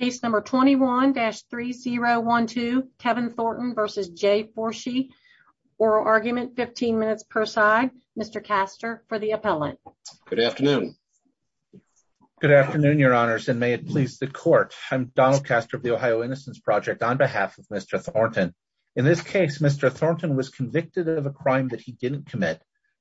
Case number 21-3012, Kevin Thornton versus Jay Forshey. Oral argument, 15 minutes per side. Mr. Castor for the appellant. Good afternoon. Good afternoon, your honors, and may it please the court. I'm Donald Castor of the Ohio Innocence Project on behalf of Mr. Thornton. In this case, Mr. Thornton was convicted of a crime that he didn't commit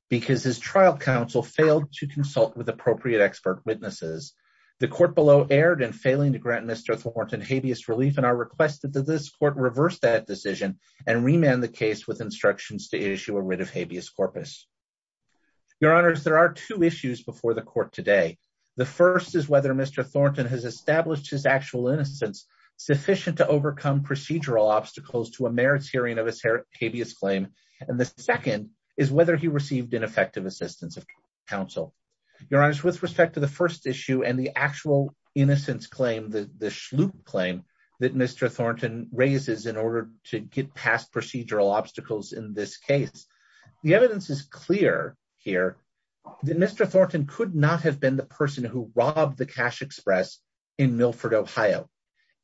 because his trial counsel failed to consult with appropriate expert witnesses. The court below erred in failing to grant Mr. Thornton habeas relief and I requested that this court reverse that decision and remand the case with instructions to issue a writ of habeas corpus. Your honors, there are two issues before the court today. The first is whether Mr. Thornton has established his actual innocence sufficient to overcome procedural obstacles to a merits hearing of his habeas claim. And the second is whether he received ineffective assistance of counsel. Your honors, with respect to the first issue and the actual innocence claim, the the schloop claim that Mr. Thornton raises in order to get past procedural obstacles in this case, the evidence is clear here that Mr. Thornton could not have been the person who robbed the cash express in Milford, Ohio.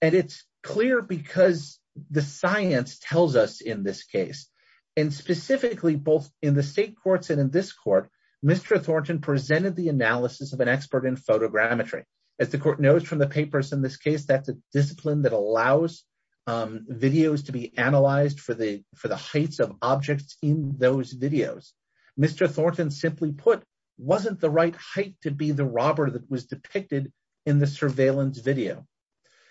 And it's clear because the science tells us in this case and specifically both in the state courts and in this court, Mr. Thornton presented the analysis of an expert in photogrammetry. As the court knows from the papers in this case, that's a discipline that allows videos to be analyzed for the for the heights of objects in those videos. Mr. Thornton simply put wasn't the right height to be the robber that was depicted in the surveillance video.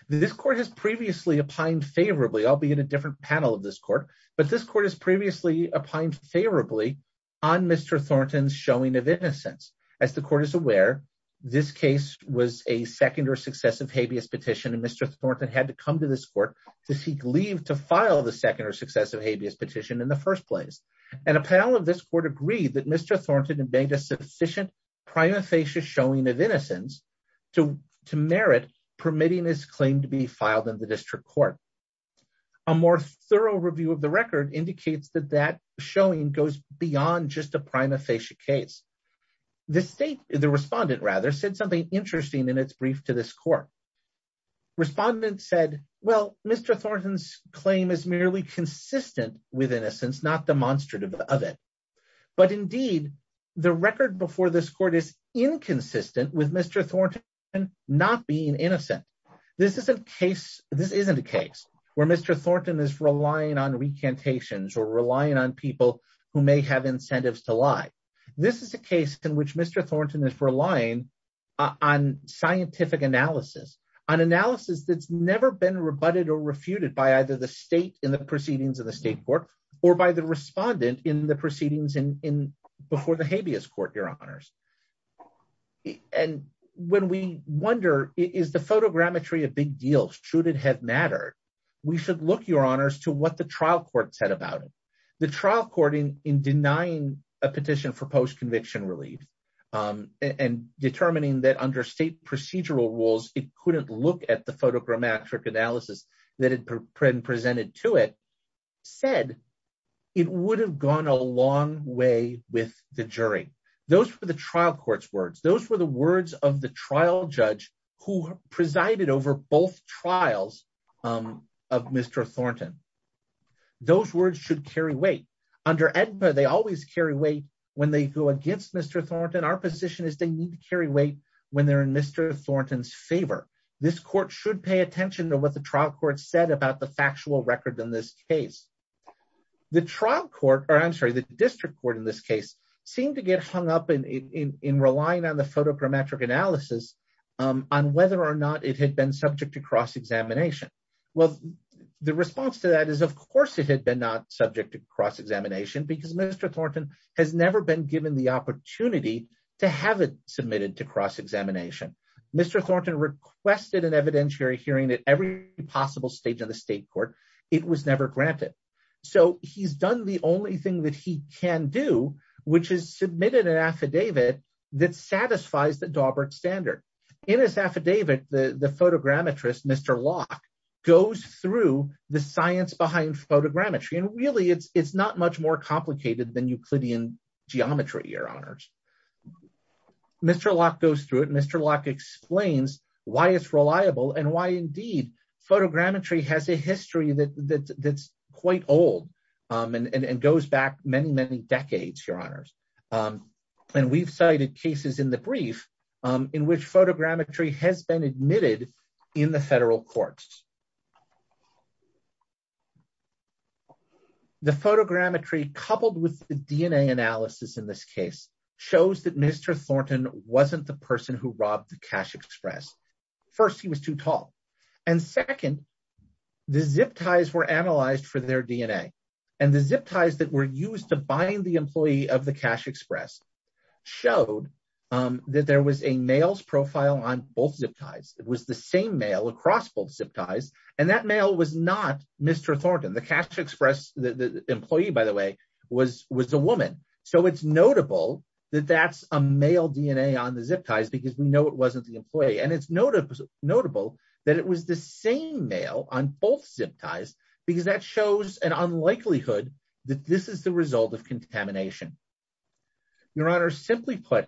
This court has previously opined favorably, albeit a different panel of this court, but this court has previously opined favorably on Mr. Thornton's showing of innocence. As the court is aware, this case was a second or successive habeas petition and Mr. Thornton had to come to this court to seek leave to file the second or successive habeas petition in the first place. And a panel of this court agreed that Mr. Thornton had made a sufficient prima facie showing of innocence to merit permitting his claim to be filed in the district court. A more thorough review of the record indicates that that showing goes beyond just a prima facie case. The state, the respondent rather, said something interesting in its brief to this court. Respondent said, well, Mr. Thornton's claim is merely consistent with innocence, not demonstrative of it. But indeed, the record before this court is inconsistent with Mr. Thornton not being innocent. This isn't a case where Mr. Thornton is relying on recantations or relying on people who may have incentives to lie. This is a case in which Mr. Thornton is relying on scientific analysis, on analysis that's never been rebutted or refuted by either the state in the proceedings of the state court or by the respondent in the proceedings before the habeas court, your honors. And when we wonder, is the photogrammetry a big deal? Should it have mattered? We should look, your honors, to what the trial court said about it. The trial court in denying a petition for post-conviction relief and determining that under state procedural rules, it couldn't look at the photogrammetric analysis that had been presented to it, said it would have gone a long way with the jury. Those were the trial court's words. Those were the words of the trial judge who presided over both trials of Mr. Thornton. Those words should carry weight. Under AEDMA, they always carry weight when they go against Mr. Thornton. Our position is they carry weight when they're in Mr. Thornton's favor. This court should pay attention to what the trial court said about the factual record in this case. The trial court, or I'm sorry, the district court in this case, seemed to get hung up in relying on the photogrammetric analysis on whether or not it had been subject to cross-examination. Well, the response to that is of course it had been not subject to cross-examination because Mr. Thornton has never been given the opportunity to have it submitted to cross-examination. Mr. Thornton requested an evidentiary hearing at every possible stage of the state court. It was never granted. He's done the only thing that he can do, which is submitted an affidavit that satisfies the Daubert standard. In his affidavit, the photogrammetrist, Mr. Locke, goes through the science behind photogrammetry. Really, it's not much more complicated than Euclidean geometry, your honors. Mr. Locke goes through it. Mr. Locke explains why it's reliable and why indeed photogrammetry has a history that's quite old and goes back many, many decades, your honors. We've cited cases in the brief in which photogrammetry has been admitted in the federal courts. The photogrammetry, coupled with the DNA analysis in this case, shows that Mr. Thornton wasn't the person who robbed the cash express. First, he was too tall. And second, the zip ties were analyzed for their DNA. And the zip ties that were used to bind the employee of the cash express showed that there was a male's profile on both zip ties. It was the same male across both zip ties. And that male was not Mr. Thornton. The cash express, the employee, by the way, was a woman. So it's notable that that's a male DNA on the zip ties because we know it wasn't the employee. And it's notable that it was the same male on both zip ties because that shows an unlikelihood that this is the result of contamination. Your honors, simply put,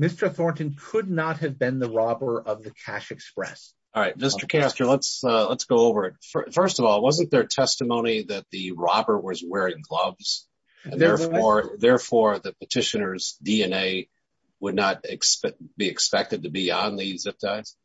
Mr. Thornton could not have been the robber of the cash express. All right. Mr. Castor, let's go over it. First of all, wasn't there testimony that the robber was wearing gloves? Therefore, the petitioner's DNA would not be expected to be on the zip ties?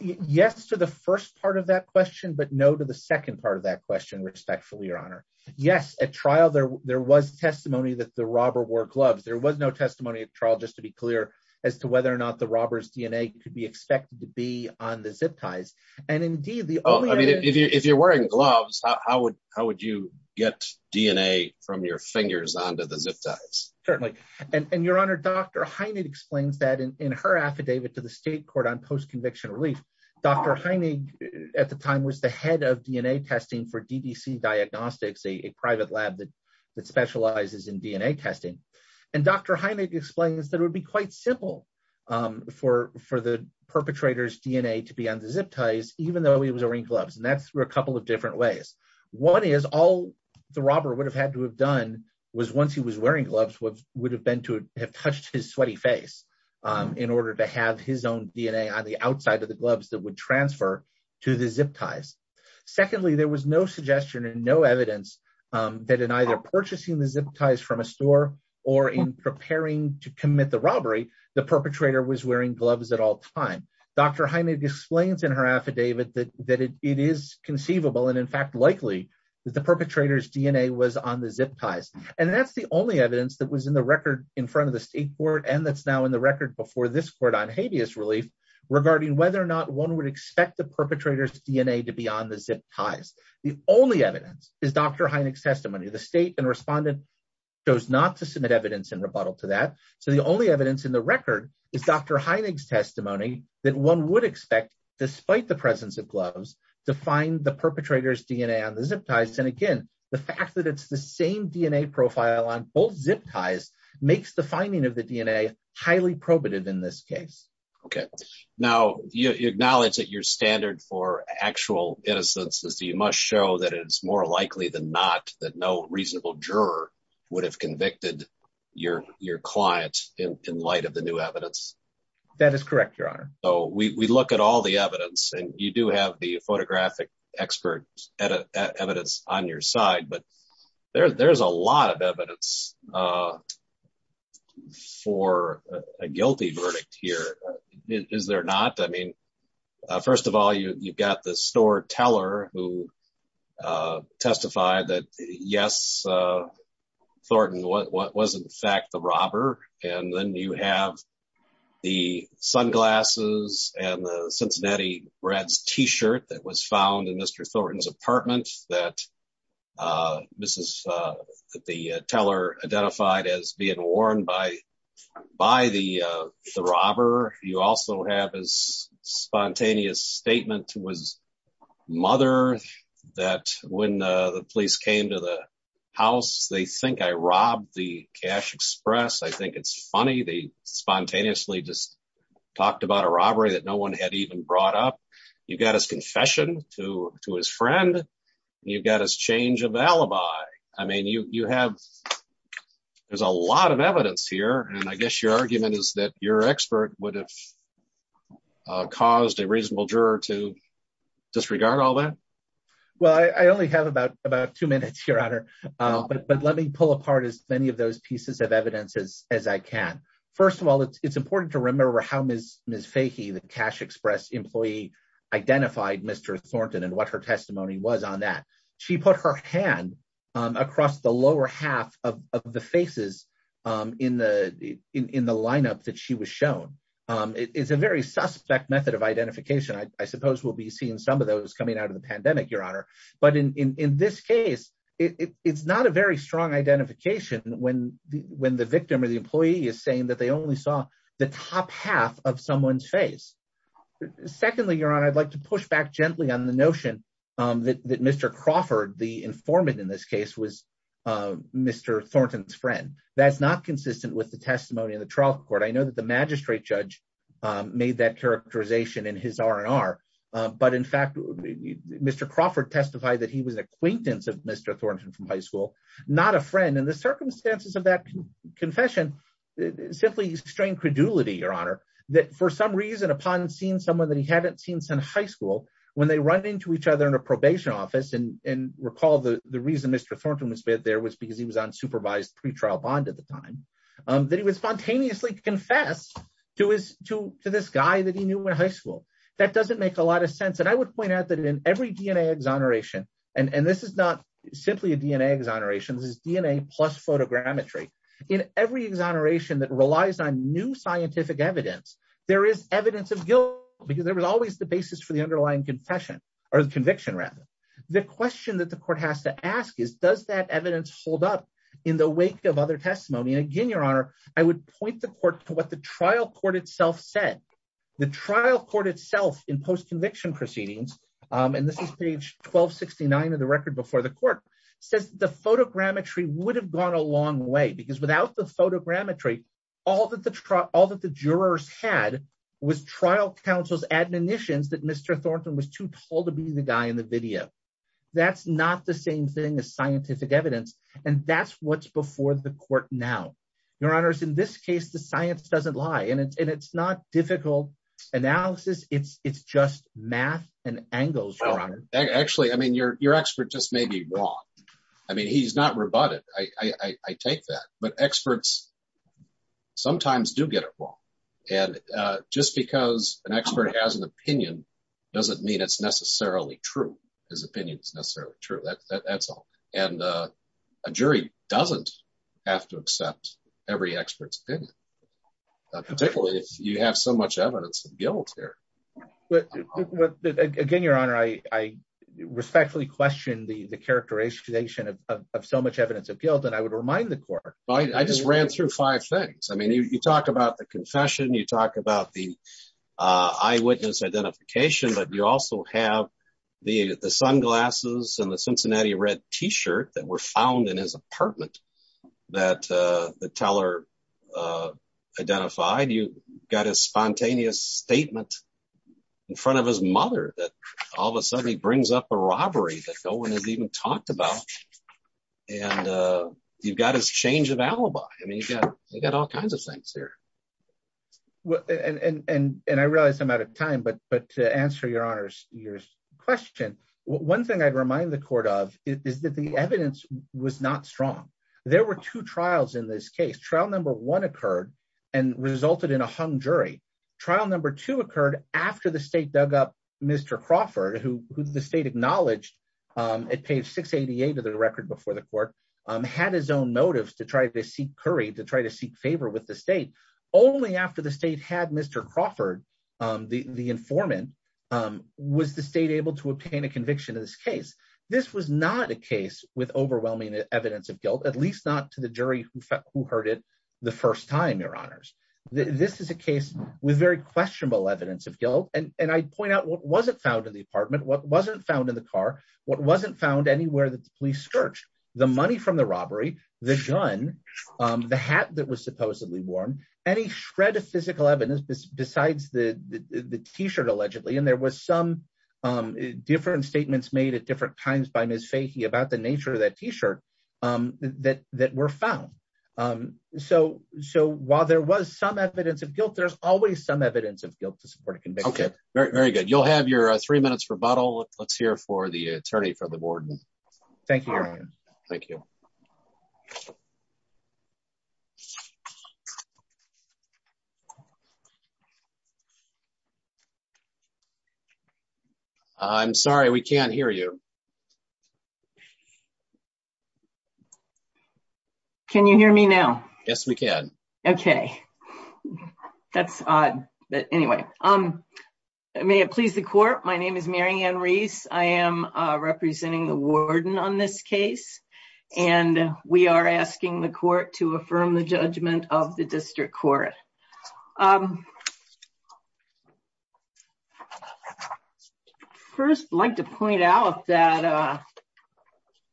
Yes to the first part of that question, but no to the second part of that question, respectfully, your honor. Yes, at trial, there was testimony that the robber wore gloves. There was no testimony at trial, just to be clear, as to whether or not the robber's DNA could be expected to be on the zip ties. And indeed, if you're wearing gloves, how would you get DNA from your fingers onto the zip ties? Certainly. And your honor, Dr. Heinig explains that in her affidavit to the state court on post-conviction relief, Dr. Heinig at the time was the head of DNA testing for DDC Diagnostics, a private lab that specializes in DNA testing. And Dr. Heinig explains that it would be quite simple for the perpetrator's DNA to be on the zip ties, even though he was wearing gloves. And that's through a couple of different ways. One is all the robber would have had to have done was once he was wearing gloves, would have been to have touched his sweaty face in order to have his own DNA on the outside of the gloves that would transfer to the zip ties. Secondly, there was no suggestion and no evidence that in either purchasing the zip ties from a store or in preparing to commit robbery, the perpetrator was wearing gloves at all time. Dr. Heinig explains in her affidavit that it is conceivable and in fact likely that the perpetrator's DNA was on the zip ties. And that's the only evidence that was in the record in front of the state court and that's now in the record before this court on habeas relief regarding whether or not one would expect the perpetrator's DNA to be on the zip ties. The only evidence is Dr. Heinig's testimony. The state and evidence in the record is Dr. Heinig's testimony that one would expect despite the presence of gloves to find the perpetrator's DNA on the zip ties. And again, the fact that it's the same DNA profile on both zip ties makes the finding of the DNA highly probative in this case. Okay. Now you acknowledge that your standard for actual innocence is that you must show that it's likely that no reasonable juror would have convicted your client in light of the new evidence? That is correct, your honor. So we look at all the evidence and you do have the photographic expert evidence on your side, but there's a lot of evidence for a guilty verdict here. Is there not? I mean, first of all, you've got the store teller who testified that yes, Thornton was in fact the robber. And then you have the sunglasses and the Cincinnati Reds t-shirt that was found in Mr. Thornton's apartment that the teller identified as being worn by the robber. You also have his spontaneous statement to his mother that when the police came to the house, they think I robbed the cash express. I think it's funny. They spontaneously just talked about a robbery that no one had even brought up. You've got his confession to his friend. You've got his change of alibi. I mean, there's a lot of evidence here. And I guess your argument is that your expert would have caused a reasonable juror to disregard all that? Well, I only have about two minutes, Your Honor. But let me pull apart as many of those pieces of evidence as I can. First of all, it's important to remember how Ms. Fahey, the cash express employee, identified Mr. Thornton and what her testimony was on that. She put her hand across the lower half of the faces in the lineup that she was shown. It's a very suspect method of your honor. But in this case, it's not a very strong identification when the victim or the employee is saying that they only saw the top half of someone's face. Secondly, Your Honor, I'd like to push back gently on the notion that Mr. Crawford, the informant in this case, was Mr. Thornton's friend. That's not consistent with the testimony in the trial court. I know that the Crawford testified that he was an acquaintance of Mr. Thornton from high school, not a friend. And the circumstances of that confession simply strained credulity, Your Honor. That for some reason, upon seeing someone that he hadn't seen since high school, when they run into each other in a probation office, and recall the reason Mr. Thornton was there was because he was on supervised pretrial bond at the time, that he would spontaneously confess to this guy that he and this is not simply a DNA exoneration, this is DNA plus photogrammetry. In every exoneration that relies on new scientific evidence, there is evidence of guilt, because there was always the basis for the underlying confession, or the conviction rather. The question that the court has to ask is, does that evidence hold up in the wake of other testimony? And again, Your Honor, I would point the court to what the trial court itself said. The trial court itself in post 1269 of the record before the court says the photogrammetry would have gone a long way because without the photogrammetry, all that the jurors had was trial counsel's admonitions that Mr. Thornton was too tall to be the guy in the video. That's not the same thing as scientific evidence. And that's what's before the court now. Your Honor, in this case, the science doesn't lie. And it's not difficult analysis. It's just math and angles, Your Honor. Actually, I mean, your expert just may be wrong. I mean, he's not rebutted. I take that. But experts sometimes do get it wrong. And just because an expert has an opinion, doesn't mean it's necessarily true. His opinion is necessarily true. That's all. And a jury doesn't have to accept every expert's opinion, particularly if you have so much evidence of guilt here. Again, Your Honor, I respectfully question the characterization of so much evidence of guilt. And I would remind the court. I just ran through five things. I mean, you talk about the confession, you talk about the eyewitness identification, but you also have the sunglasses and the Cincinnati Red T-shirt that were found in his apartment that the teller identified. You got his spontaneous statement in front of his mother that all of a sudden he brings up a robbery that no one has even talked about. And you've got his change of alibi. I mean, you've got all kinds of things here. Well, and I realize I'm out of time, but to answer Your Honor's question, one thing I'd remind the court of is that the evidence was not strong. There were two trials in this case. Trial number one occurred and resulted in a hung jury. Trial number two occurred after the state dug up Mr. Crawford, who the state acknowledged at page 688 of the record before the court, had his own motives to try to seek curry, to try to seek favor with the state. Only after the state had Mr. Crawford, the informant, was the state able to obtain a conviction in this case. This was not a case with overwhelming evidence of guilt, at least not to the jury who heard it the first time, Your Honors. This is a case with very questionable evidence of guilt. And I'd point out what wasn't found in the apartment, what wasn't found in the car, what wasn't found anywhere that the police searched. The money from the robbery, the gun, the hat that was supposedly worn, any shred of physical evidence besides the t-shirt, allegedly. And there was some different statements made at different times by Ms. Fahy about the nature of that t-shirt that were found. So while there was some evidence of guilt, there's always some evidence of guilt to support a conviction. Okay, very good. You'll have your three minutes rebuttal. Let's hear for the attorney for the board. Thank you, Your Honor. Thank you. I'm sorry, we can't hear you. Can you hear me now? Yes, we can. Okay, that's odd. But anyway, may it please the court, my name is Marianne Reese. I am representing the warden on this case. And we are asking the court to affirm the judgment of the district court. First, I'd like to point out that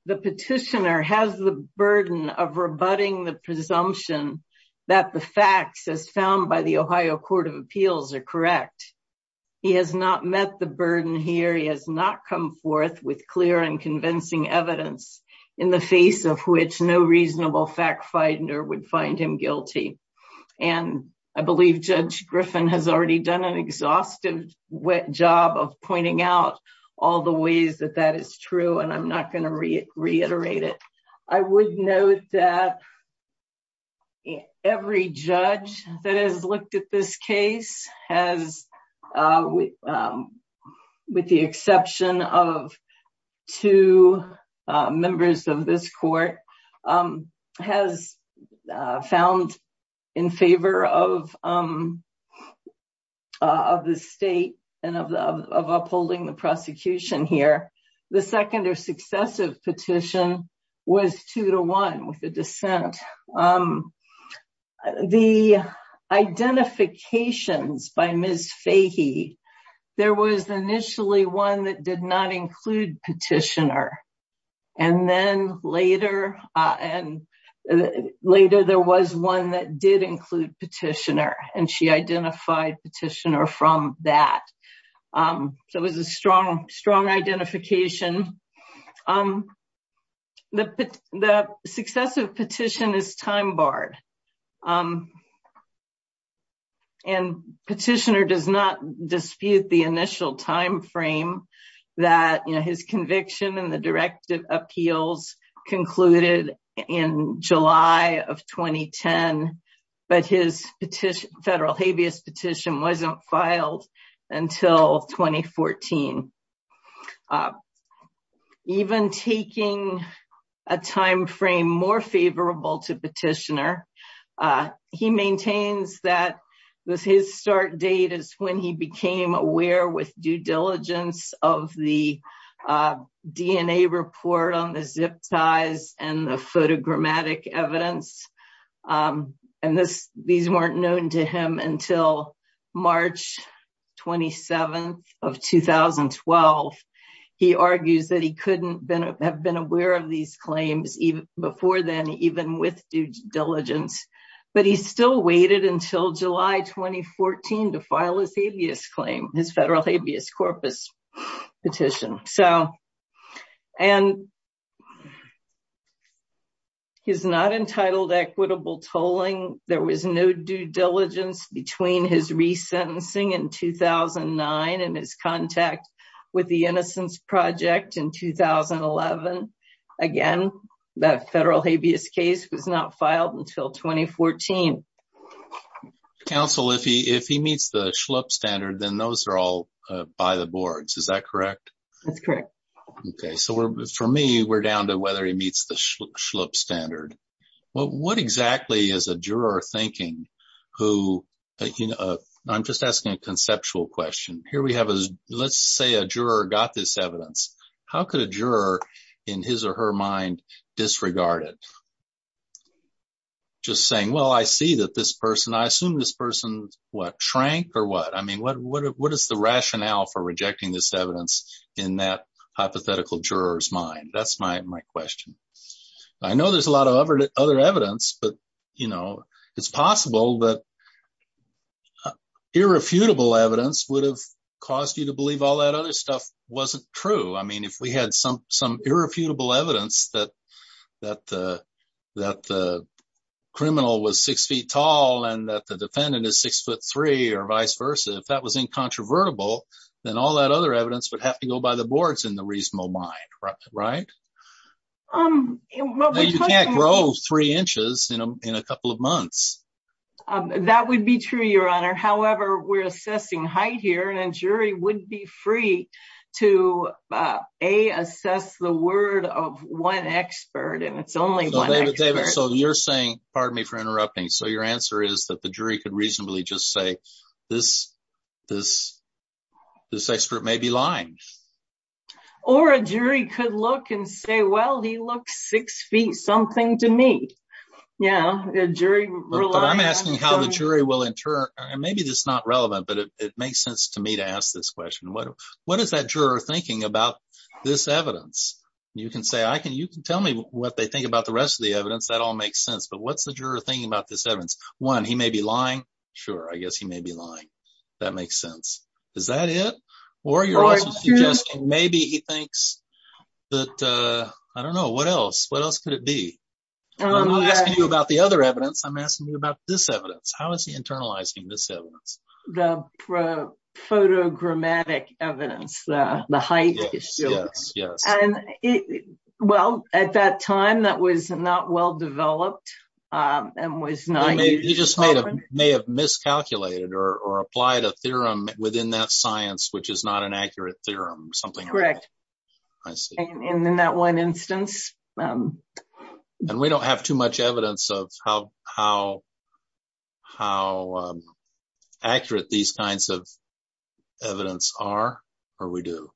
the petitioner has the burden of rebutting the presumption that the facts as found by the Ohio Court of Appeals are correct. He has not met the burden here. He has not come forth with clear and convincing evidence in the face of which no reasonable fact finder would find him guilty. And I believe Judge Griffin has already done an exhaustive job of pointing out all the ways that that is true. And I'm not going reiterate it. I would note that every judge that has looked at this case has, with the exception of two members of this court, has found in favor of of the state and of upholding the prosecution here. The second or successive petition was two to one with the dissent. The identifications by Ms. Fahy, there was initially one that did not identify petitioner from that. So it was a strong identification. The successive petition is time barred. And petitioner does not dispute the initial time petition wasn't filed until 2014. Even taking a time frame more favorable to petitioner, he maintains that his start date is when he became aware with due diligence of the report on the zip ties and the photogrammatic evidence. And these weren't known to him until March 27th of 2012. He argues that he couldn't have been aware of these claims before then, even with due diligence. But he still waited until July 2014 to file his habeas claim, his federal habeas corpus petition. And he's not entitled equitable tolling. There was no due diligence between his resentencing in 2009 and his contact with the Innocence Project in 2011. Again, that federal habeas case was not filed until 2014. Counsel, if he meets the schlup standard, then those are all by the boards. Is that correct? That's correct. Okay. So for me, we're down to whether he meets the schlup standard. What exactly is a juror thinking? I'm just asking a conceptual question. Here we have, let's say a juror got this evidence. How could a juror in his or her mind disregard it? Just saying, well, I see that this person, I assume this person, what, shrank or what? I mean, what is the rationale for rejecting this evidence in that hypothetical juror's mind? That's my question. I know there's a lot of other evidence, but it's possible that irrefutable evidence would have caused you to believe all that stuff wasn't true. I mean, if we had some irrefutable evidence that the criminal was six feet tall and that the defendant is six foot three or vice versa, if that was incontrovertible, then all that other evidence would have to go by the boards in the reasonable mind, right? You can't grow three inches in a couple of months. That would be true, your honor. However, we're assessing height here and a jury would be free to A, assess the word of one expert. And it's only one expert. So you're saying, pardon me for interrupting. So your answer is that the jury could reasonably just say, this expert may be lying. Or a jury could look and say, well, he looks six feet something to me. Yeah. But I'm asking how the jury will in turn, maybe this is not relevant, but it makes sense to me to ask this question. What is that juror thinking about this evidence? You can tell me what they think about the rest of the evidence. That all makes sense. But what's the juror thinking about this evidence? One, he may be lying. Sure. I guess he may be lying. That makes sense. Is that it? Or you're also suggesting maybe he thinks that, I don't know, what else? What else could it be? I'm not asking you about the other evidence. I'm asking you about this evidence. How is he internalizing this evidence? The photogrammatic evidence, the height issue. Yes, yes, yes. Well, at that time that was not well-developed and was not used often. He just may have miscalculated or applied a theorem within that science, which is not an I see. And in that one instance. And we don't have too much evidence of how accurate these kinds of evidence are, or we do.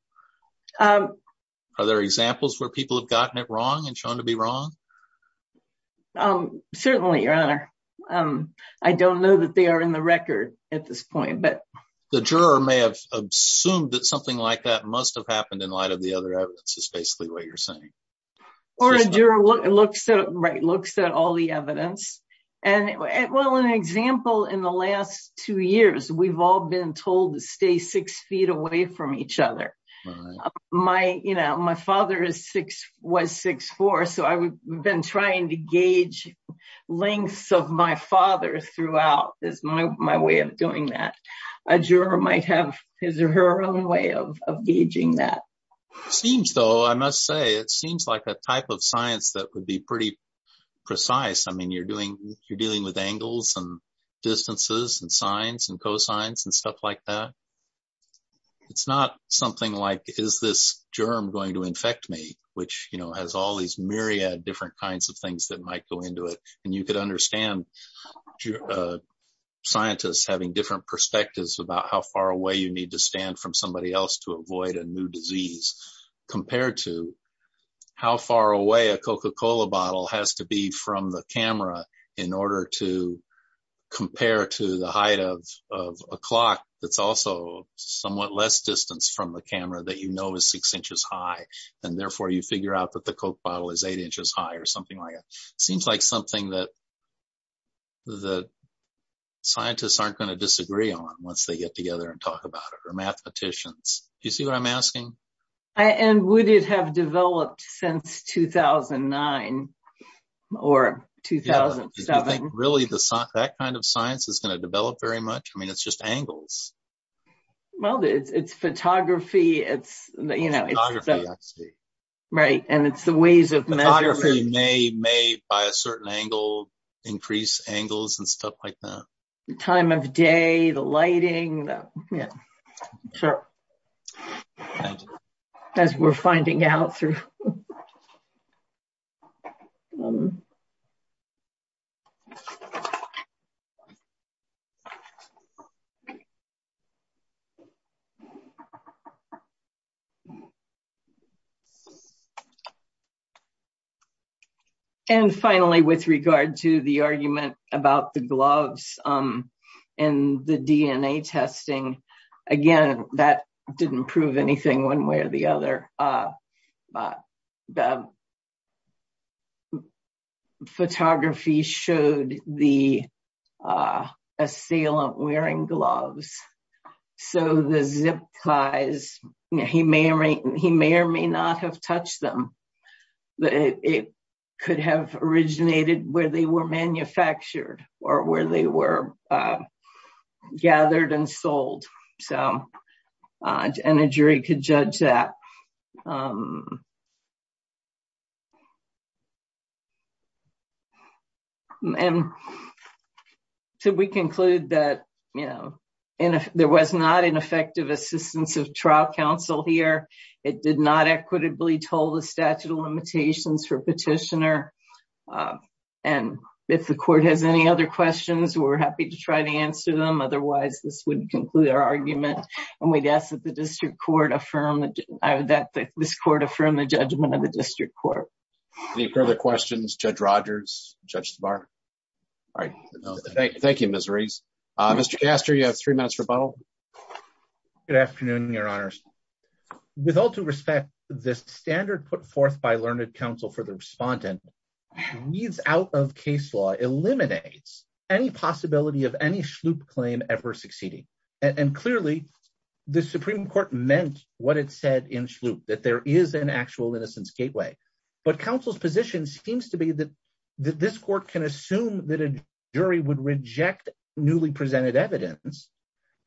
Are there examples where people have gotten it wrong and shown to be wrong? Certainly, Your Honor. I don't know that they are in the record at this point, but. The juror may have assumed that something like that must have happened in light of the other evidence is basically what you're saying. Or a juror looks at, right, looks at all the evidence. And well, an example in the last two years, we've all been told to stay six feet away from each other. My, you know, my father is six, was six four. So I've been trying to gauge lengths of my father throughout is my way of doing that. A juror might have his or her own way of gauging that. Seems though, I must say, it seems like a type of science that would be pretty precise. I mean, you're doing, you're dealing with angles and distances and sines and cosines and stuff like that. It's not something like, is this germ going to infect me? Which, you know, has all these myriad different kinds of things that might go into it. And you could understand scientists having different perspectives about how far away you need to stand from somebody else to avoid a new disease compared to how far away a Coca-Cola bottle has to be from the camera in order to compare to the height of a clock. That's also somewhat less distance from the camera that you know is six inches high. And therefore you figure out that the Coke bottle is eight inches high or something like that. Seems like something that the scientists aren't going to disagree on once they get together and talk about it, or mathematicians. Do you see what I'm asking? And would it have developed since 2009 or 2007? Really, that kind of science is going to develop very much. I mean, it's just angles. Well, it's photography. It's, you know, right. And it's the ways of measuring. Photography may, by a certain angle, increase angles and stuff like that. The time of day, the lighting. Yeah, sure. As we're finding out through. And finally, with regard to the argument about the gloves and the DNA testing. Again, that didn't prove anything one way or the other. But the photography showed the assailant wearing gloves. So the zip ties, he may or may not have touched them. It could have originated where they were manufactured or where they were gathered and And so we conclude that, you know, there was not an effective assistance of trial counsel here. It did not equitably told the statute of limitations for petitioner. And if the court has any other questions, we're happy to try to answer them. Otherwise, this would conclude our argument. And we guess that the district court affirmed that this court affirmed the judgment of the district court. Any further questions, Judge Rogers, Judge Zavar? All right. Thank you, Ms. Rees. Mr. Castor, you have three minutes rebuttal. Good afternoon, Your Honors. With all due respect, this standard put forth by learned counsel for the respondent weeds out of case law, eliminates any possibility of any SHLOOP claim ever succeeding. And clearly, the Supreme Court meant what it said in SHLOOP, that there is an actual innocence gateway. But counsel's position seems to be that this court can assume that a jury would reject newly presented evidence,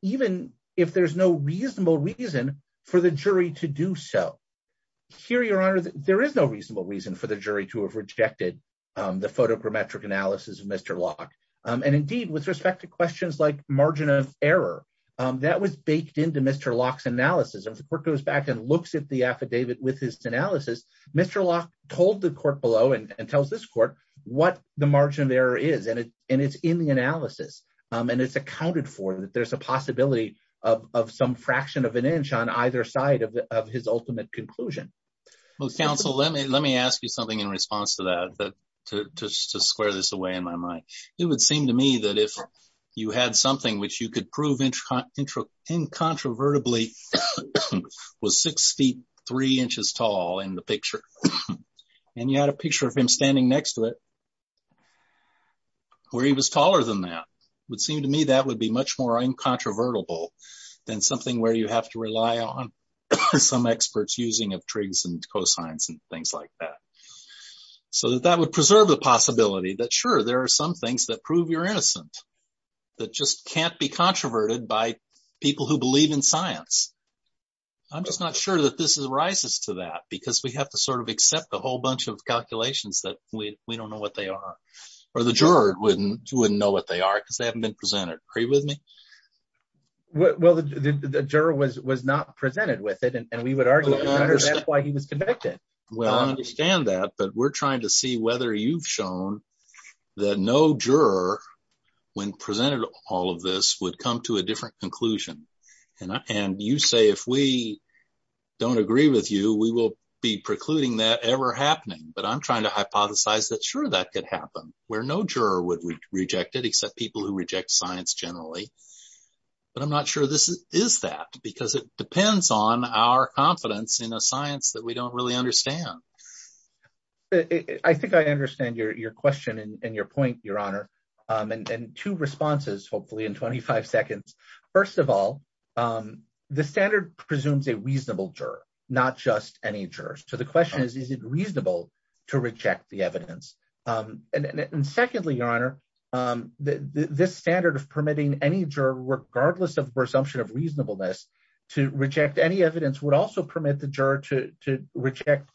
even if there's no reasonable reason for the jury to do so. Here, Your Honor, there is no reasonable reason for the jury to have rejected the photogrammetric analysis of Mr. Locke. And indeed, with respect to questions like margin of error, that was baked into Mr. Locke's analysis. If the court goes back and looks at the affidavit with his analysis, Mr. Locke told the court below and tells this court what the margin of error is. And it's in the analysis. And it's accounted for that there's a possibility of some fraction of an inch on either side of his ultimate conclusion. Well, counsel, let me ask you something in response to that, to square this away in my mind. It would seem to me that if you had something which you could prove incontrovertibly was 63 inches tall in the picture, and you had a picture of him standing next to it, where he was taller than that, it would seem to me that would be much more incontrovertible than something where you have to rely on some experts using of trigs and cosines and things like that. So that would preserve the possibility that, sure, there are some things that prove you're innocent, that just can't be controverted by people who believe in science. I'm just not sure that this arises to that, because we have to sort of accept a whole bunch of calculations that we don't know what they are. Or the juror wouldn't know what they are, because they haven't been presented. Agree with me? Well, the juror was not presented with it, and we would argue that's why he was convicted. Well, I understand that. But we're trying to see whether you've shown that no juror, when presented all of this, would come to a different conclusion. And you say if we don't agree with you, we will be precluding that ever happening. But I'm trying to hypothesize that, sure, that could happen, where no juror would reject it, except people who reject science generally. But I'm not sure this is that, because it depends on our confidence in a science that we don't really understand. I think I understand your question and your point, Your Honor. And two responses, hopefully, in 25 seconds. First of all, the standard presumes a reasonable juror, not just any jurors. So the question is, is it reasonable to reject the evidence? And secondly, Your Honor, this standard of permitting any juror, regardless of presumption of reasonableness, to reject any evidence would also permit the juror to reject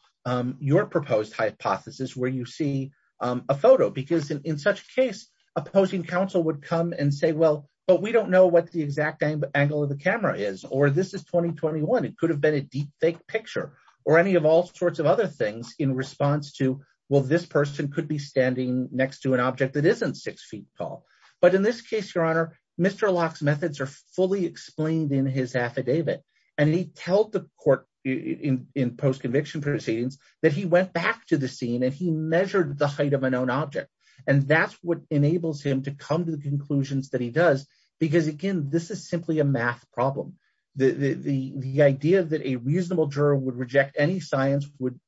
your proposed hypothesis, where you see a photo. Because in such a case, opposing counsel would come and say, well, but we don't know what the exact angle of the camera is, or this is 2021. It could have been a deepfake picture, or any of all sorts of other things in response to, well, this person could be standing next to an object that isn't six feet tall. But in this case, Your Honor, Mr. Locke's methods are fully explained in his affidavit. And he told the court in post-conviction proceedings that he went back to the scene, and he measured the height of a known object. And that's what enables him to come to the conclusions that he does. Because again, this is simply a math problem. The idea that a reasonable juror would reject any science would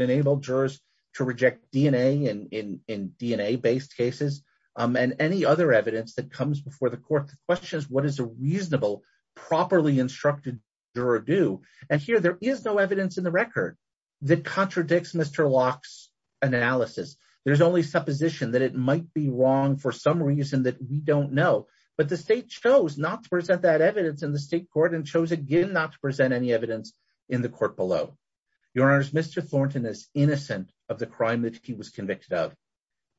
enable jurors to reject in DNA-based cases, and any other evidence that comes before the court that questions what is a reasonable, properly instructed juror do. And here, there is no evidence in the record that contradicts Mr. Locke's analysis. There's only supposition that it might be wrong for some reason that we don't know. But the state chose not to present that evidence in the state court, and chose again not to present any evidence in the court below. Your Honors, Mr. Thornton is innocent of the crime that he was convicted of.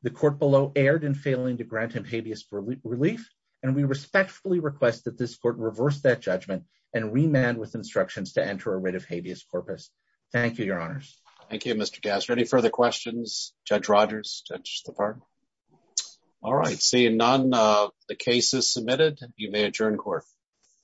The court below erred in failing to grant him habeas relief. And we respectfully request that this court reverse that judgment, and remand with instructions to enter a writ of habeas corpus. Thank you, Your Honors. Thank you, Mr. Gasser. Any further questions? Judge Rodgers? Judge Stephan? All right, seeing none, the case is submitted. You may adjourn court.